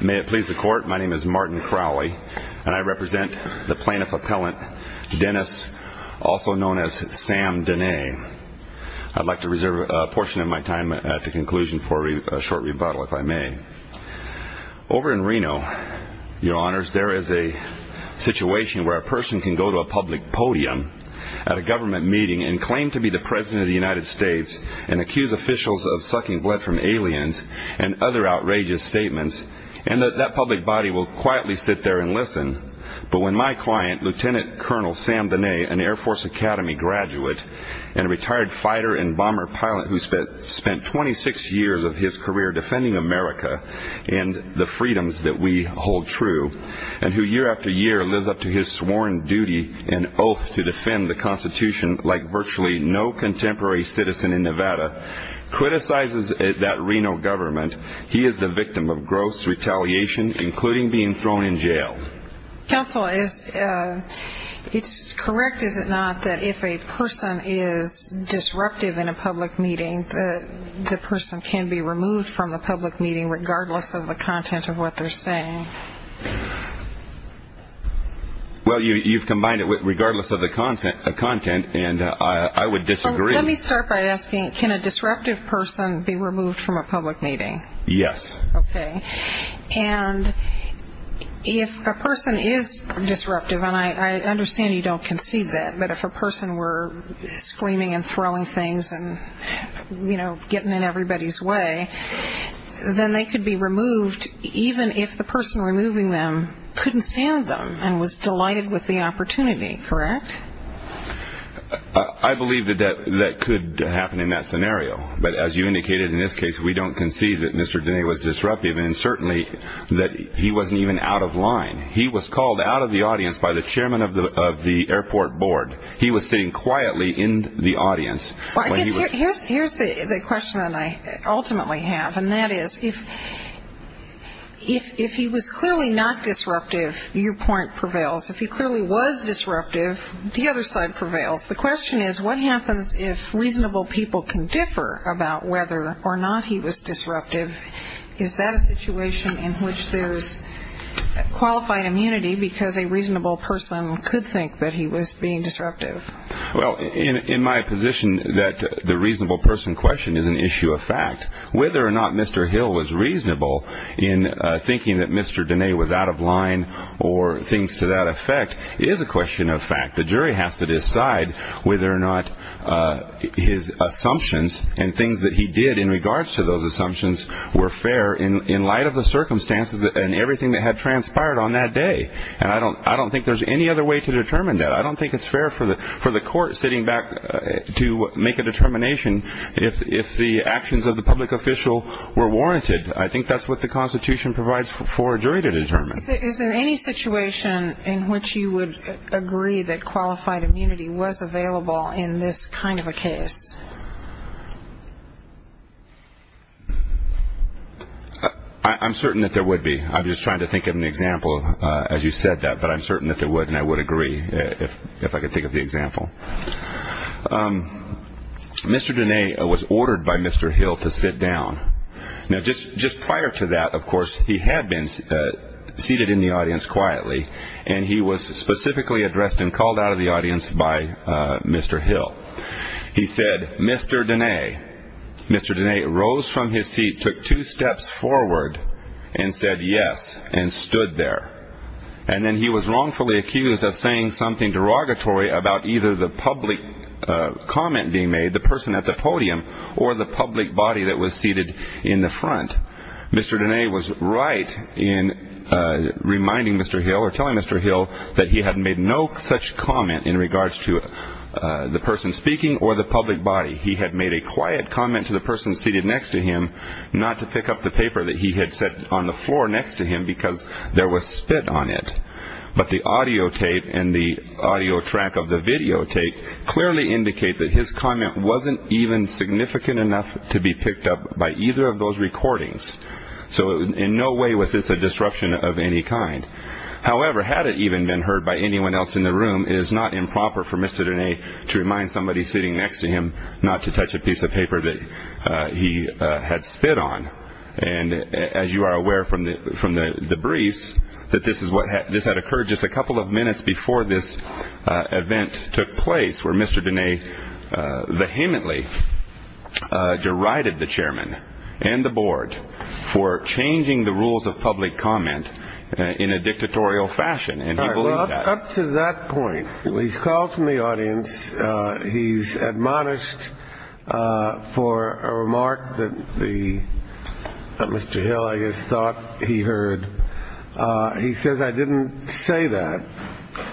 May it please the Court, my name is Martin Crowley, and I represent the plaintiff-appellant Dennis, also known as Sam Dehne. I'd like to reserve a portion of my time at the conclusion for a short rebuttal, if I may. Over in Reno, Your Honors, there is a situation where a person can go to a public podium at a government meeting and claim to be the President of the United States and accuse officials of sucking blood from aliens and other outrageous statements, and that that public body will quietly sit there and listen. But when my client, Lt. Col. Sam Dehne, an Air Force Academy graduate and retired fighter and bomber pilot who spent 26 years of his career defending America and the freedoms that we hold true, and who year after year lives up to his sworn duty and oath to defend the Constitution like virtually no contemporary citizen in Nevada, criticizes that Reno government, he is the victim of gross retaliation, including being thrown in jail. Counsel, is it correct, is it not, that if a person is disruptive in a public meeting, the person can be removed from the public meeting regardless of the content of what they're saying? Well, you've combined it with regardless of the content, and I would disagree. Let me start by asking, can a disruptive person be removed from a public meeting? Yes. Okay. And if a person is disruptive, and I understand you don't concede that, but if a person were screaming and throwing things and, you know, getting in everybody's way, then they could be removed even if the person removing them couldn't stand them and was delighted with the opportunity, correct? I believe that that could happen in that scenario. But as you indicated, in this case, we don't concede that Mr. Denea was disruptive, and certainly that he wasn't even out of line. He was called out of the audience by the chairman of the airport board. He was sitting quietly in the audience. Here's the question that I ultimately have, and that is, if he was clearly not disruptive, your point prevails. If he clearly was disruptive, the other side prevails. The question is, what happens if reasonable people can differ about whether or not he was disruptive? Is that a situation in which there's qualified immunity because a reasonable person could think that he was being disruptive? Well, in my position that the reasonable person question is an issue of fact. Whether or not Mr. Hill was reasonable in thinking that Mr. Denea was out of line or things to that effect is a question of fact. The jury has to decide whether or not his assumptions and things that he did in regards to those assumptions were fair in light of the circumstances and everything that had transpired on that day. And I don't think there's any other way to determine that. I don't think it's fair for the court sitting back to make a determination if the actions of the public official were warranted. I think that's what the Constitution provides for a jury to determine. Is there any situation in which you would agree that qualified immunity was available in this kind of a case? I'm certain that there would be. I'm just trying to think of an example as you said that, but I'm certain that there would, and I would agree if I could think of the example. Mr. Denea was ordered by Mr. Hill to sit down. Now, just prior to that, of course, he had been seated in the audience quietly, and he was specifically addressed and called out of the audience by Mr. Hill. He said, Mr. Denea. Mr. Denea rose from his seat, took two steps forward, and said yes, and stood there. And then he was wrongfully accused of saying something derogatory about either the public comment being made, the person at the podium, or the public body that was seated in the front. Mr. Denea was right in reminding Mr. Hill or telling Mr. Hill that he had made no such comment in regards to the person speaking or the public body. He had made a quiet comment to the person seated next to him not to pick up the paper that he had set on the floor next to him because there was spit on it. But the audio tape and the audio track of the video tape clearly indicate that his comment wasn't even significant enough to be picked up by either of those recordings. So in no way was this a disruption of any kind. However, had it even been heard by anyone else in the room, it is not improper for Mr. Denea to remind somebody sitting next to him not to touch a piece of paper that he had spit on. And as you are aware from the briefs, this had occurred just a couple of minutes before this event took place, where Mr. Denea vehemently derided the chairman and the board for changing the rules of public comment in a dictatorial fashion. And up to that point, he's called from the audience. He's admonished for a remark that the Mr. Hill, I guess, thought he heard. He says, I didn't say that.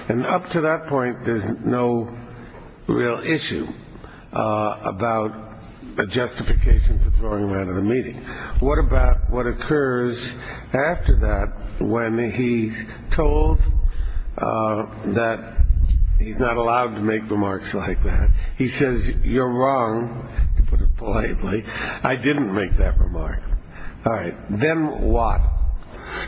And up to that point, there's no real issue about a justification for throwing him out of the meeting. What about what occurs after that when he told that he's not allowed to make remarks like that? He says, you're wrong. I didn't make that remark. All right. Then what?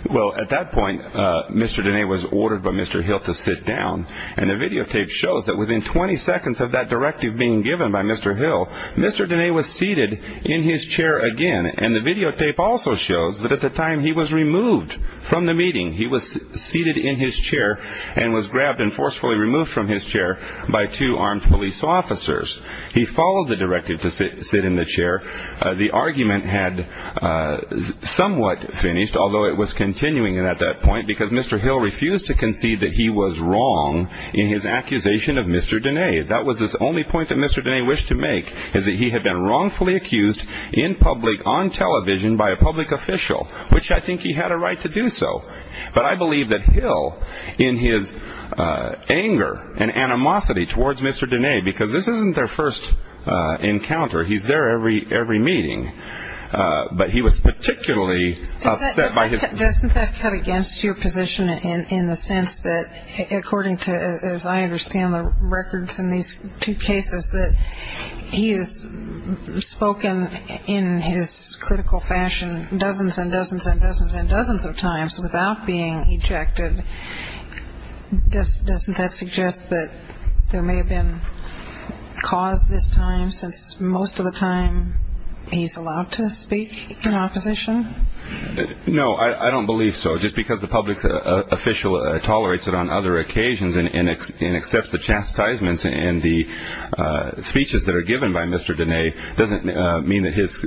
Well, at that point, Mr. Denea was ordered by Mr. Hill to sit down. And the videotape shows that within 20 seconds of that directive being given by Mr. Hill, Mr. Denea was seated in his chair again. And the videotape also shows that at the time he was removed from the meeting, he was seated in his chair and was grabbed and forcefully removed from his chair by two armed police officers. He followed the directive to sit in the chair. The argument had somewhat finished, although it was continuing at that point, because Mr. Hill refused to concede that he was wrong in his accusation of Mr. Denea. That was his only point that Mr. Denea wished to make, is that he had been wrongfully accused in public on television by a public official, which I think he had a right to do so. But I believe that Hill, in his anger and animosity towards Mr. Denea, because this isn't their first encounter, he's there every meeting, but he was particularly upset by his. Doesn't that cut against your position in the sense that, according to, as I understand the records in these two cases, that he has spoken in his critical fashion dozens and dozens and dozens and dozens of times without being ejected? Doesn't that suggest that there may have been cause this time, since most of the time he's allowed to speak in opposition? No, I don't believe so. Just because the public official tolerates it on other occasions and accepts the chastisements and the speeches that are given by Mr. Denea doesn't mean that his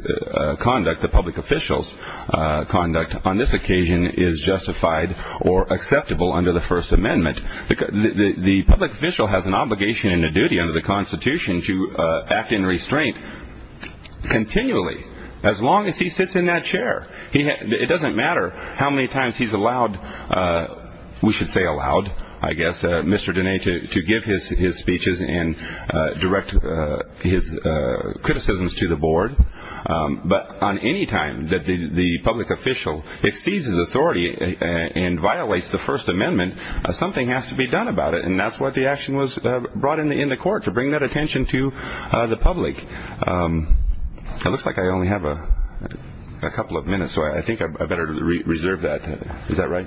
conduct, the public official's conduct, on this occasion is justified or acceptable under the First Amendment. The public official has an obligation and a duty under the Constitution to act in restraint continually, as long as he sits in that chair. It doesn't matter how many times he's allowed, we should say allowed, I guess, Mr. Denea to give his speeches and direct his criticisms to the board. But on any time that the public official exceeds his authority and violates the First Amendment, something has to be done about it, and that's what the action was brought in the court, to bring that attention to the public. It looks like I only have a couple of minutes, so I think I better reserve that. Is that right?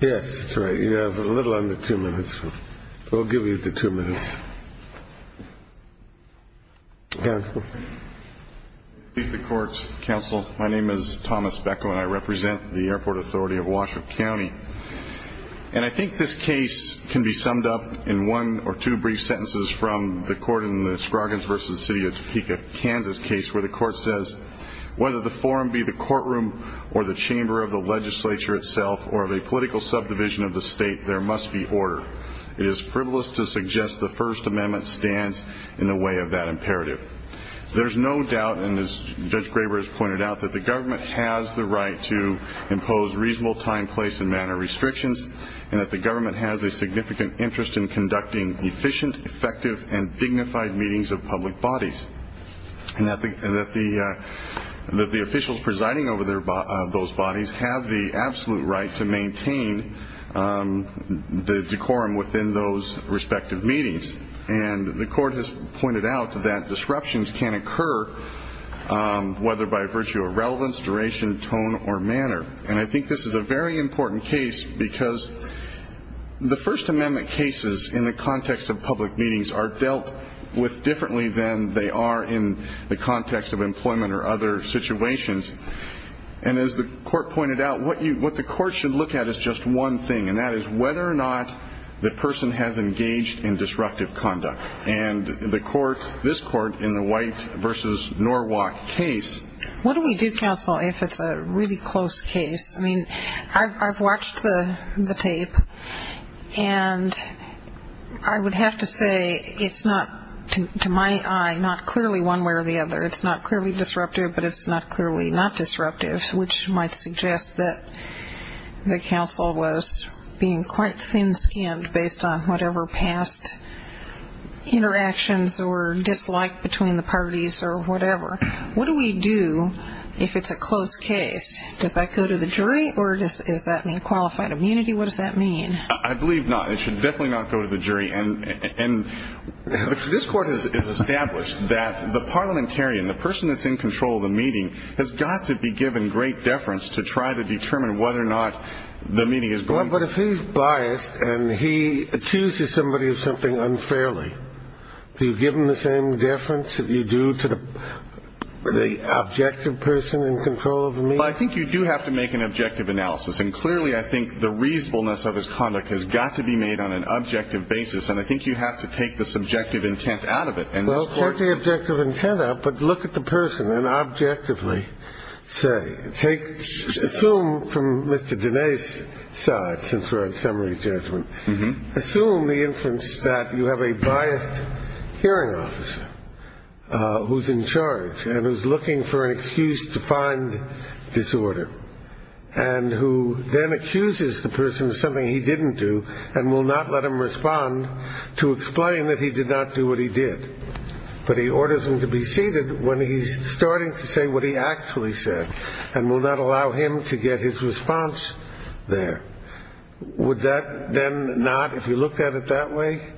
Yes, that's right. You have a little under two minutes. We'll give you the two minutes. Go ahead. To the courts, counsel, my name is Thomas Beckow, and I represent the airport authority of Washoe County. And I think this case can be summed up in one or two brief sentences from the court in the Scroggins v. City of Topeka, Kansas case, where the court says, whether the forum be the courtroom or the chamber of the legislature itself or of a political subdivision of the state, there must be order. It is frivolous to suggest the First Amendment stands in the way of that imperative. There's no doubt, and as Judge Graber has pointed out, that the government has the right to impose reasonable time, place, and manner restrictions, and that the government has a significant interest in conducting efficient, effective, and dignified meetings of public bodies, and that the officials presiding over those bodies have the absolute right to maintain the decorum within those respective meetings. And the court has pointed out that disruptions can occur, whether by virtue of relevance, duration, tone, or manner. And I think this is a very important case because the First Amendment cases in the context of public meetings are dealt with differently than they are in the context of employment or other situations. And as the court pointed out, what the court should look at is just one thing, and that is whether or not the person has engaged in disruptive conduct. And the court, this court, in the White v. Norwalk case. What do we do, counsel, if it's a really close case? I mean, I've watched the tape, and I would have to say it's not, to my eye, not clearly one way or the other. It's not clearly disruptive, but it's not clearly not disruptive, which might suggest that the counsel was being quite thin-skinned based on whatever past interactions or dislike between the parties or whatever. What do we do if it's a close case? Does that go to the jury, or does that mean qualified immunity? What does that mean? I believe not. It should definitely not go to the jury. And this court has established that the parliamentarian, the person that's in control of the meeting, has got to be given great deference to try to determine whether or not the meeting is going. But if he's biased and he accuses somebody of something unfairly, do you give him the same deference that you do to the objective person in control of the meeting? Well, I think you do have to make an objective analysis, and clearly I think the reasonableness of his conduct has got to be made on an objective basis, and I think you have to take the subjective intent out of it. Well, take the objective intent out, but look at the person and objectively say. Assume from Mr. Dene's side, since we're on summary judgment, assume the inference that you have a biased hearing officer who's in charge and who's looking for an excuse to find disorder and who then accuses the person of something he didn't do and will not let him respond to explain that he did not do what he did. But he orders him to be seated when he's starting to say what he actually said and will not allow him to get his response there. Would that then not, if you looked at it that way,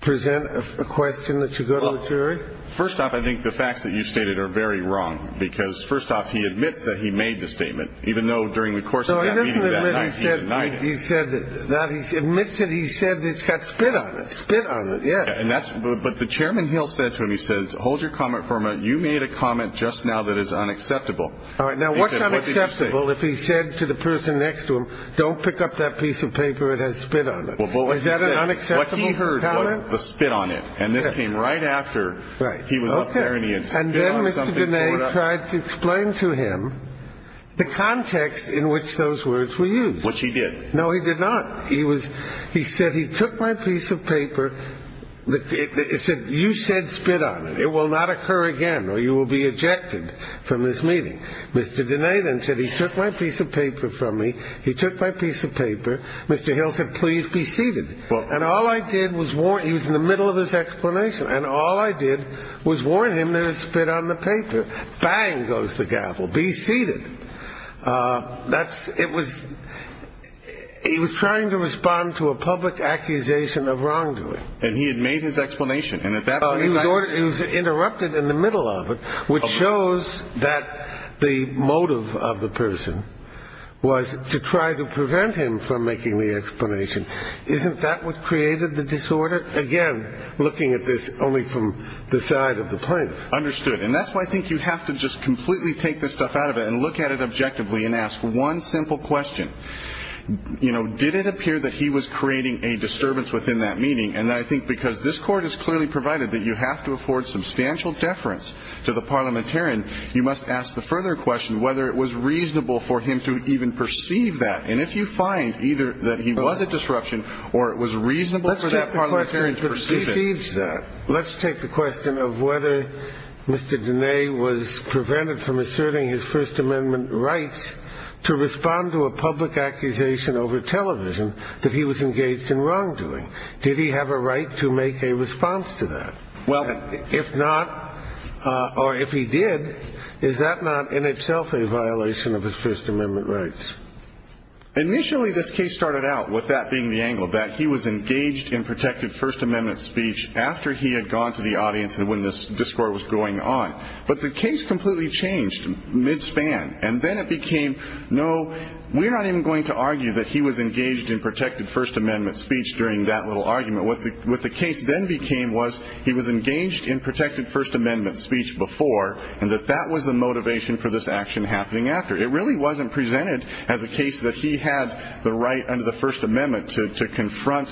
present a question that you go to the jury? Well, first off, I think the facts that you stated are very wrong because first off, he admits that he made the statement, admits that he said it's got spit on it, spit on it, yeah. But the chairman Hill said to him, he said, hold your comment for a minute, you made a comment just now that is unacceptable. All right, now what's unacceptable if he said to the person next to him, don't pick up that piece of paper, it has spit on it? Is that an unacceptable comment? What he heard was the spit on it, and this came right after he was up there and he had spit on something. And then Mr. Dene tried to explain to him the context in which those words were used. Which he did. No, he did not. He was, he said, he took my piece of paper, it said, you said spit on it, it will not occur again or you will be ejected from this meeting. Mr. Dene then said, he took my piece of paper from me, he took my piece of paper, Mr. Hill said, please be seated. And all I did was warn, he was in the middle of his explanation, and all I did was warn him there was spit on the paper. Bang goes the gavel, be seated. That's, it was, he was trying to respond to a public accusation of wrongdoing. And he had made his explanation. He was interrupted in the middle of it, which shows that the motive of the person was to try to prevent him from making the explanation. Isn't that what created the disorder? Again, looking at this only from the side of the plaintiff. Understood. And that's why I think you have to just completely take this stuff out of it and look at it objectively and ask one simple question. You know, did it appear that he was creating a disturbance within that meeting? And I think because this Court has clearly provided that you have to afford substantial deference to the parliamentarian, you must ask the further question whether it was reasonable for him to even perceive that. And if you find either that he was a disruption or it was reasonable for that parliamentarian to perceive it. Let's take the question of whether Mr. Dene was prevented from asserting his First Amendment rights to respond to a public accusation over television that he was engaged in wrongdoing. Did he have a right to make a response to that? Well, if not, or if he did, is that not in itself a violation of his First Amendment rights? Initially, this case started out with that being the angle, that he was engaged in protected First Amendment speech after he had gone to the audience and when this discourse was going on. But the case completely changed mid-span, and then it became, no, we're not even going to argue that he was engaged in protected First Amendment speech during that little argument. What the case then became was he was engaged in protected First Amendment speech before and that that was the motivation for this action happening after. It really wasn't presented as a case that he had the right under the First Amendment to confront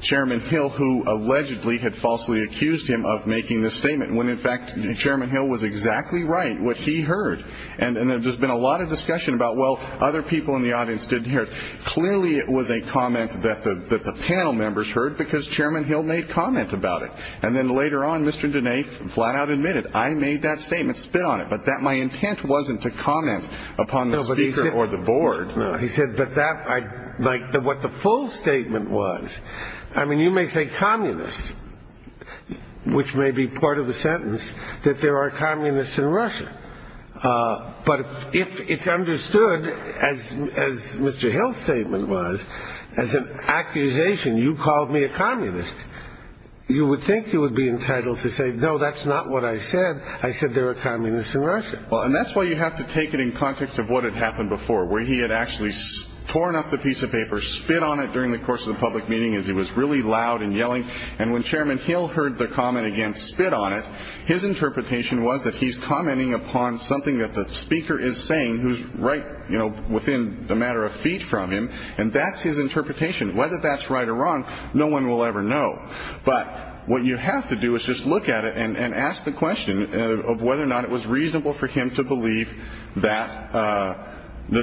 Chairman Hill who allegedly had falsely accused him of making this statement when, in fact, Chairman Hill was exactly right what he heard. And there's been a lot of discussion about, well, other people in the audience didn't hear it. Clearly, it was a comment that the panel members heard because Chairman Hill made comment about it. And then later on, Mr. Dene flat-out admitted, I made that statement, spit on it, but that my intent wasn't to comment upon the speaker or the board. He said, but that I like what the full statement was. I mean, you may say communists, which may be part of the sentence that there are communists in Russia. But if it's understood, as Mr. Hill's statement was, as an accusation, you called me a communist, you would think you would be entitled to say, no, that's not what I said. I said there were communists in Russia. Well, and that's why you have to take it in context of what had happened before, where he had actually torn up the piece of paper, spit on it during the course of the public meeting as he was really loud and yelling. And when Chairman Hill heard the comment against spit on it, his interpretation was that he's commenting upon something that the speaker is saying who's right within a matter of feet from him, and that's his interpretation. Whether that's right or wrong, no one will ever know. But what you have to do is just look at it and ask the question of whether or not it was reasonable for him to believe that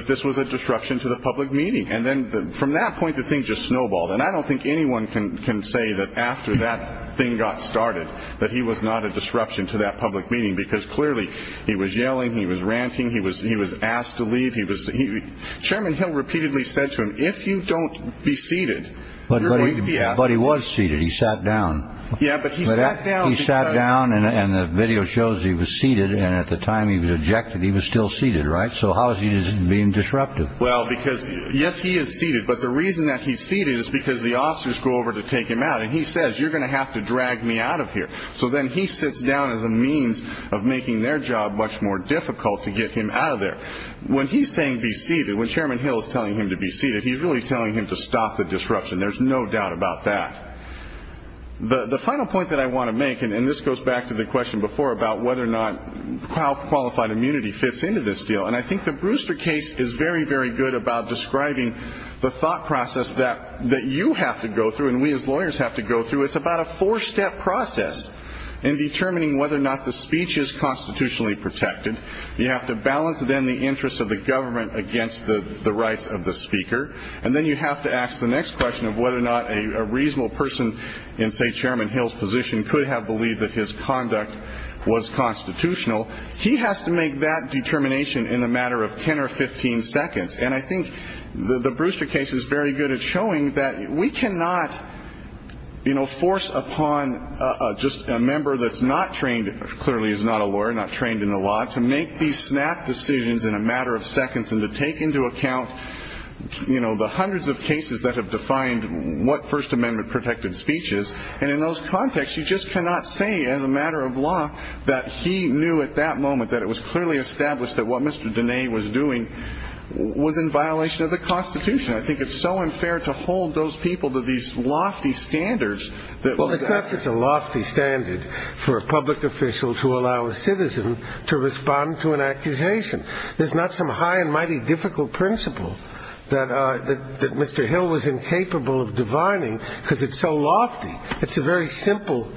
this was a disruption to the public meeting. And then from that point, the thing just snowballed. And I don't think anyone can say that after that thing got started that he was not a disruption to that public meeting, because clearly he was yelling, he was ranting, he was asked to leave. Chairman Hill repeatedly said to him, if you don't be seated, you're going to be asked to leave. But he was seated. He sat down. Yeah, but he sat down. He sat down, and the video shows he was seated. And at the time he was ejected, he was still seated, right? So how is he being disruptive? Well, because, yes, he is seated. But the reason that he's seated is because the officers go over to take him out, and he says, you're going to have to drag me out of here. So then he sits down as a means of making their job much more difficult to get him out of there. When he's saying be seated, when Chairman Hill is telling him to be seated, he's really telling him to stop the disruption. There's no doubt about that. The final point that I want to make, and this goes back to the question before about whether or not qualified immunity fits into this deal, and I think the Brewster case is very, very good about describing the thought process that you have to go through and we as lawyers have to go through. It's about a four-step process in determining whether or not the speech is constitutionally protected. You have to balance, then, the interests of the government against the rights of the speaker. And then you have to ask the next question of whether or not a reasonable person in, say, Chairman Hill's position could have believed that his conduct was constitutional. He has to make that determination in a matter of 10 or 15 seconds. And I think the Brewster case is very good at showing that we cannot, you know, force upon just a member that's not trained, clearly is not a lawyer, not trained in the law, to make these snap decisions in a matter of seconds and to take into account, you know, the hundreds of cases that have defined what First Amendment protected speech is. And in those contexts, you just cannot say as a matter of law that he knew at that moment that it was clearly established that what Mr. Dene was doing was in violation of the Constitution. I think it's so unfair to hold those people to these lofty standards. Well, it's not such a lofty standard for a public official to allow a citizen to respond to an accusation. There's not some high and mighty difficult principle that Mr. Hill was incapable of divining because it's so lofty. It's a very simple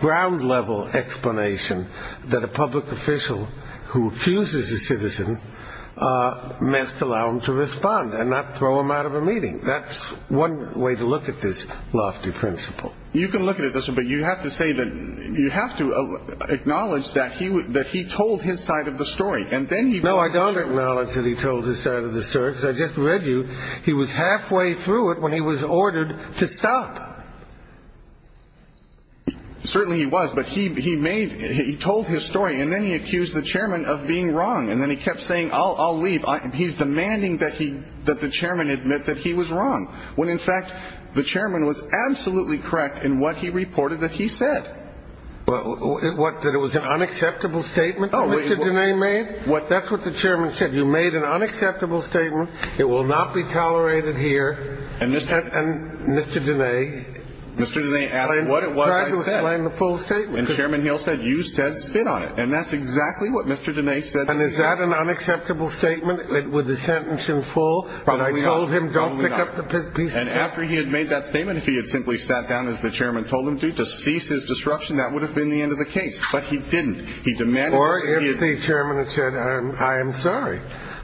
ground-level explanation that a public official who accuses a citizen must allow him to respond and not throw him out of a meeting. That's one way to look at this lofty principle. You can look at it this way, but you have to say that you have to acknowledge that he told his side of the story. No, I don't acknowledge that he told his side of the story because I just read you he was halfway through it when he was ordered to stop. Certainly he was, but he told his story, and then he accused the chairman of being wrong, and then he kept saying, I'll leave. He's demanding that the chairman admit that he was wrong, when in fact the chairman was absolutely correct in what he reported that he said. What, that it was an unacceptable statement that Mr. Dene made? That's what the chairman said. You made an unacceptable statement. It will not be tolerated here. And Mr. Dene tried to explain the full statement. And Chairman Hill said, you said spit on it. And that's exactly what Mr. Dene said. And is that an unacceptable statement with the sentence in full? But I told him don't pick up the piece of paper. And after he had made that statement, if he had simply sat down, as the chairman told him to, to cease his disruption, that would have been the end of the case. But he didn't. Or if the chairman had said, I am sorry,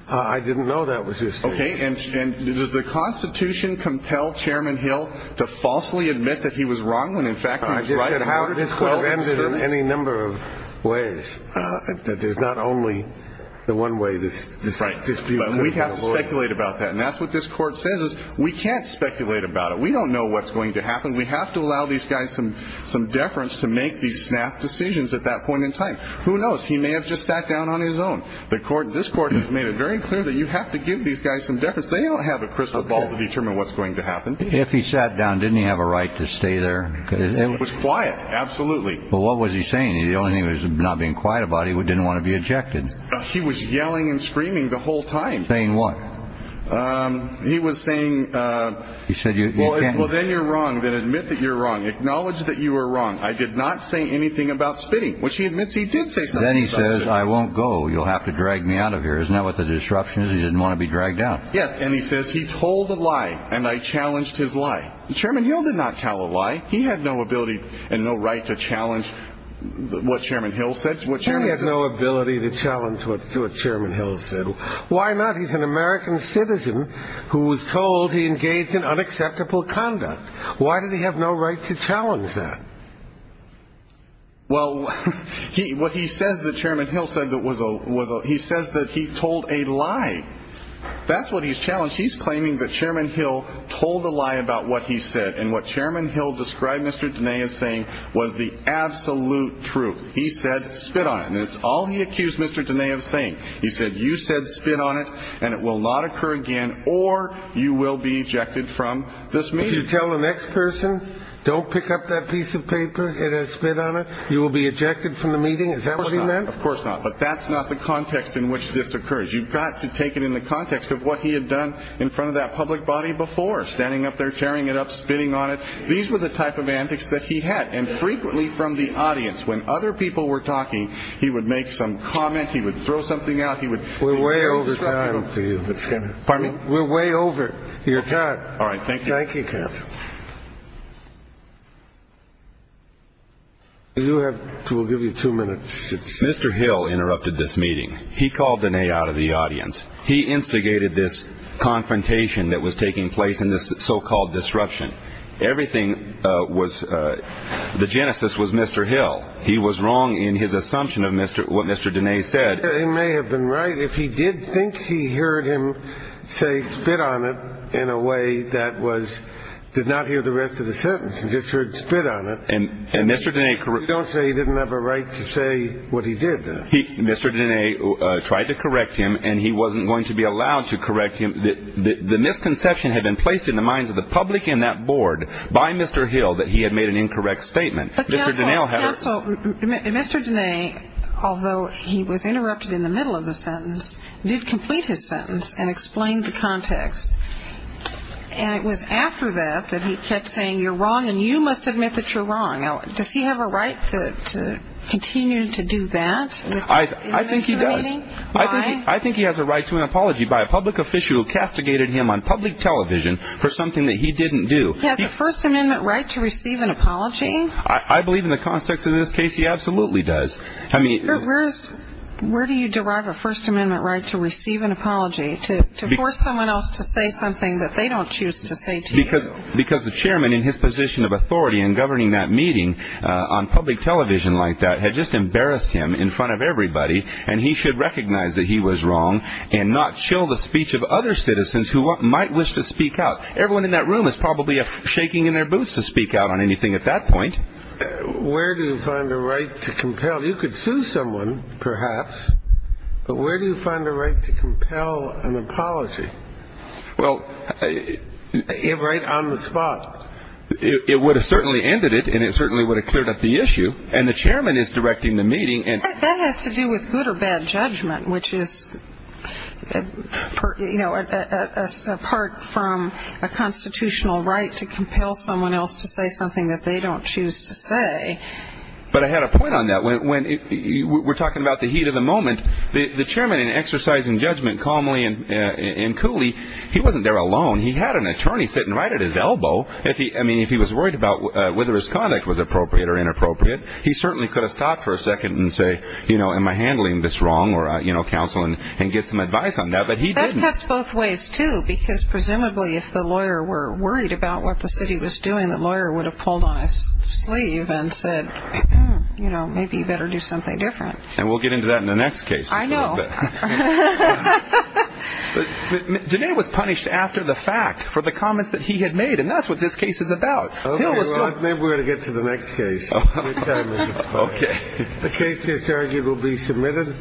I didn't know that was his statement. Okay, and does the Constitution compel Chairman Hill to falsely admit that he was wrong when in fact he was right? This could have ended in any number of ways. There's not only the one way this dispute could have been avoided. Right, but we have to speculate about that. And that's what this Court says is we can't speculate about it. We don't know what's going to happen. We have to allow these guys some deference to make these snap decisions at that point in time. Who knows? He may have just sat down on his own. This Court has made it very clear that you have to give these guys some deference. They don't have a crystal ball to determine what's going to happen. If he sat down, didn't he have a right to stay there? It was quiet. Absolutely. Well, what was he saying? The only thing he was not being quiet about, he didn't want to be ejected. He was yelling and screaming the whole time. Saying what? He was saying, well, then you're wrong. Then admit that you're wrong. Acknowledge that you were wrong. I did not say anything about spitting, which he admits he did say something about spitting. Then he says, I won't go. You'll have to drag me out of here. Isn't that what the disruption is? He didn't want to be dragged out. Yes, and he says he told a lie, and I challenged his lie. Chairman Hill did not tell a lie. He had no ability and no right to challenge what Chairman Hill said. He had no ability to challenge what Chairman Hill said. Why not? He's an American citizen who was told he engaged in unacceptable conduct. Why did he have no right to challenge that? Well, he says that Chairman Hill said that he told a lie. That's what he's challenged. He's claiming that Chairman Hill told a lie about what he said, and what Chairman Hill described Mr. Denea as saying was the absolute truth. He said, spit on it. And that's all he accused Mr. Denea of saying. He said, you said, spit on it, and it will not occur again, or you will be ejected from this meeting. If you tell the next person, don't pick up that piece of paper, it has spit on it, you will be ejected from the meeting. Is that what he meant? Of course not. But that's not the context in which this occurs. You've got to take it in the context of what he had done in front of that public body before, standing up there, tearing it up, spitting on it. These were the type of antics that he had, and frequently from the audience. When other people were talking, he would make some comment. He would throw something out. We're way over time for you. Pardon me? We're way over your time. All right, thank you. Thank you, Captain. We'll give you two minutes. Mr. Hill interrupted this meeting. He called Diné out of the audience. He instigated this confrontation that was taking place in this so-called disruption. Everything was the genesis was Mr. Hill. He was wrong in his assumption of what Mr. Diné said. He may have been right if he did think he heard him say spit on it in a way that was, did not hear the rest of the sentence and just heard spit on it. And Mr. Diné. Don't say he didn't have a right to say what he did. Mr. Diné tried to correct him, and he wasn't going to be allowed to correct him. The misconception had been placed in the minds of the public and that board by Mr. Hill that he had made an incorrect statement. Mr. Diné, although he was interrupted in the middle of the sentence, did complete his sentence and explained the context. And it was after that that he kept saying, you're wrong and you must admit that you're wrong. Does he have a right to continue to do that? I think he does. I think he has a right to an apology by a public official who castigated him on public television for something that he didn't do. He has a First Amendment right to receive an apology? I believe in the context in this case he absolutely does. Where do you derive a First Amendment right to receive an apology, to force someone else to say something that they don't choose to say to you? Because the chairman in his position of authority in governing that meeting on public television like that had just embarrassed him in front of everybody, and he should recognize that he was wrong and not show the speech of other citizens who might wish to speak out. Everyone in that room is probably shaking in their boots to speak out on anything at that point. Where do you find a right to compel? You could sue someone, perhaps, but where do you find a right to compel an apology? Well, right on the spot. It would have certainly ended it, and it certainly would have cleared up the issue, and the chairman is directing the meeting. That has to do with good or bad judgment, which is, you know, apart from a constitutional right to compel someone else to say something that they don't choose to say. But I had a point on that. When we're talking about the heat of the moment, the chairman in exercising judgment calmly and coolly, he wasn't there alone. He had an attorney sitting right at his elbow. I mean, if he was worried about whether his conduct was appropriate or inappropriate, he certainly could have stopped for a second and say, you know, am I handling this wrong, or counsel and get some advice on that, but he didn't. That cuts both ways, too, because presumably if the lawyer were worried about what the city was doing, the lawyer would have pulled on his sleeve and said, you know, maybe you better do something different. And we'll get into that in the next case. I know. Denae was punished after the fact for the comments that he had made, and that's what this case is about. Maybe we're going to get to the next case. Okay. The case is arguably submitted.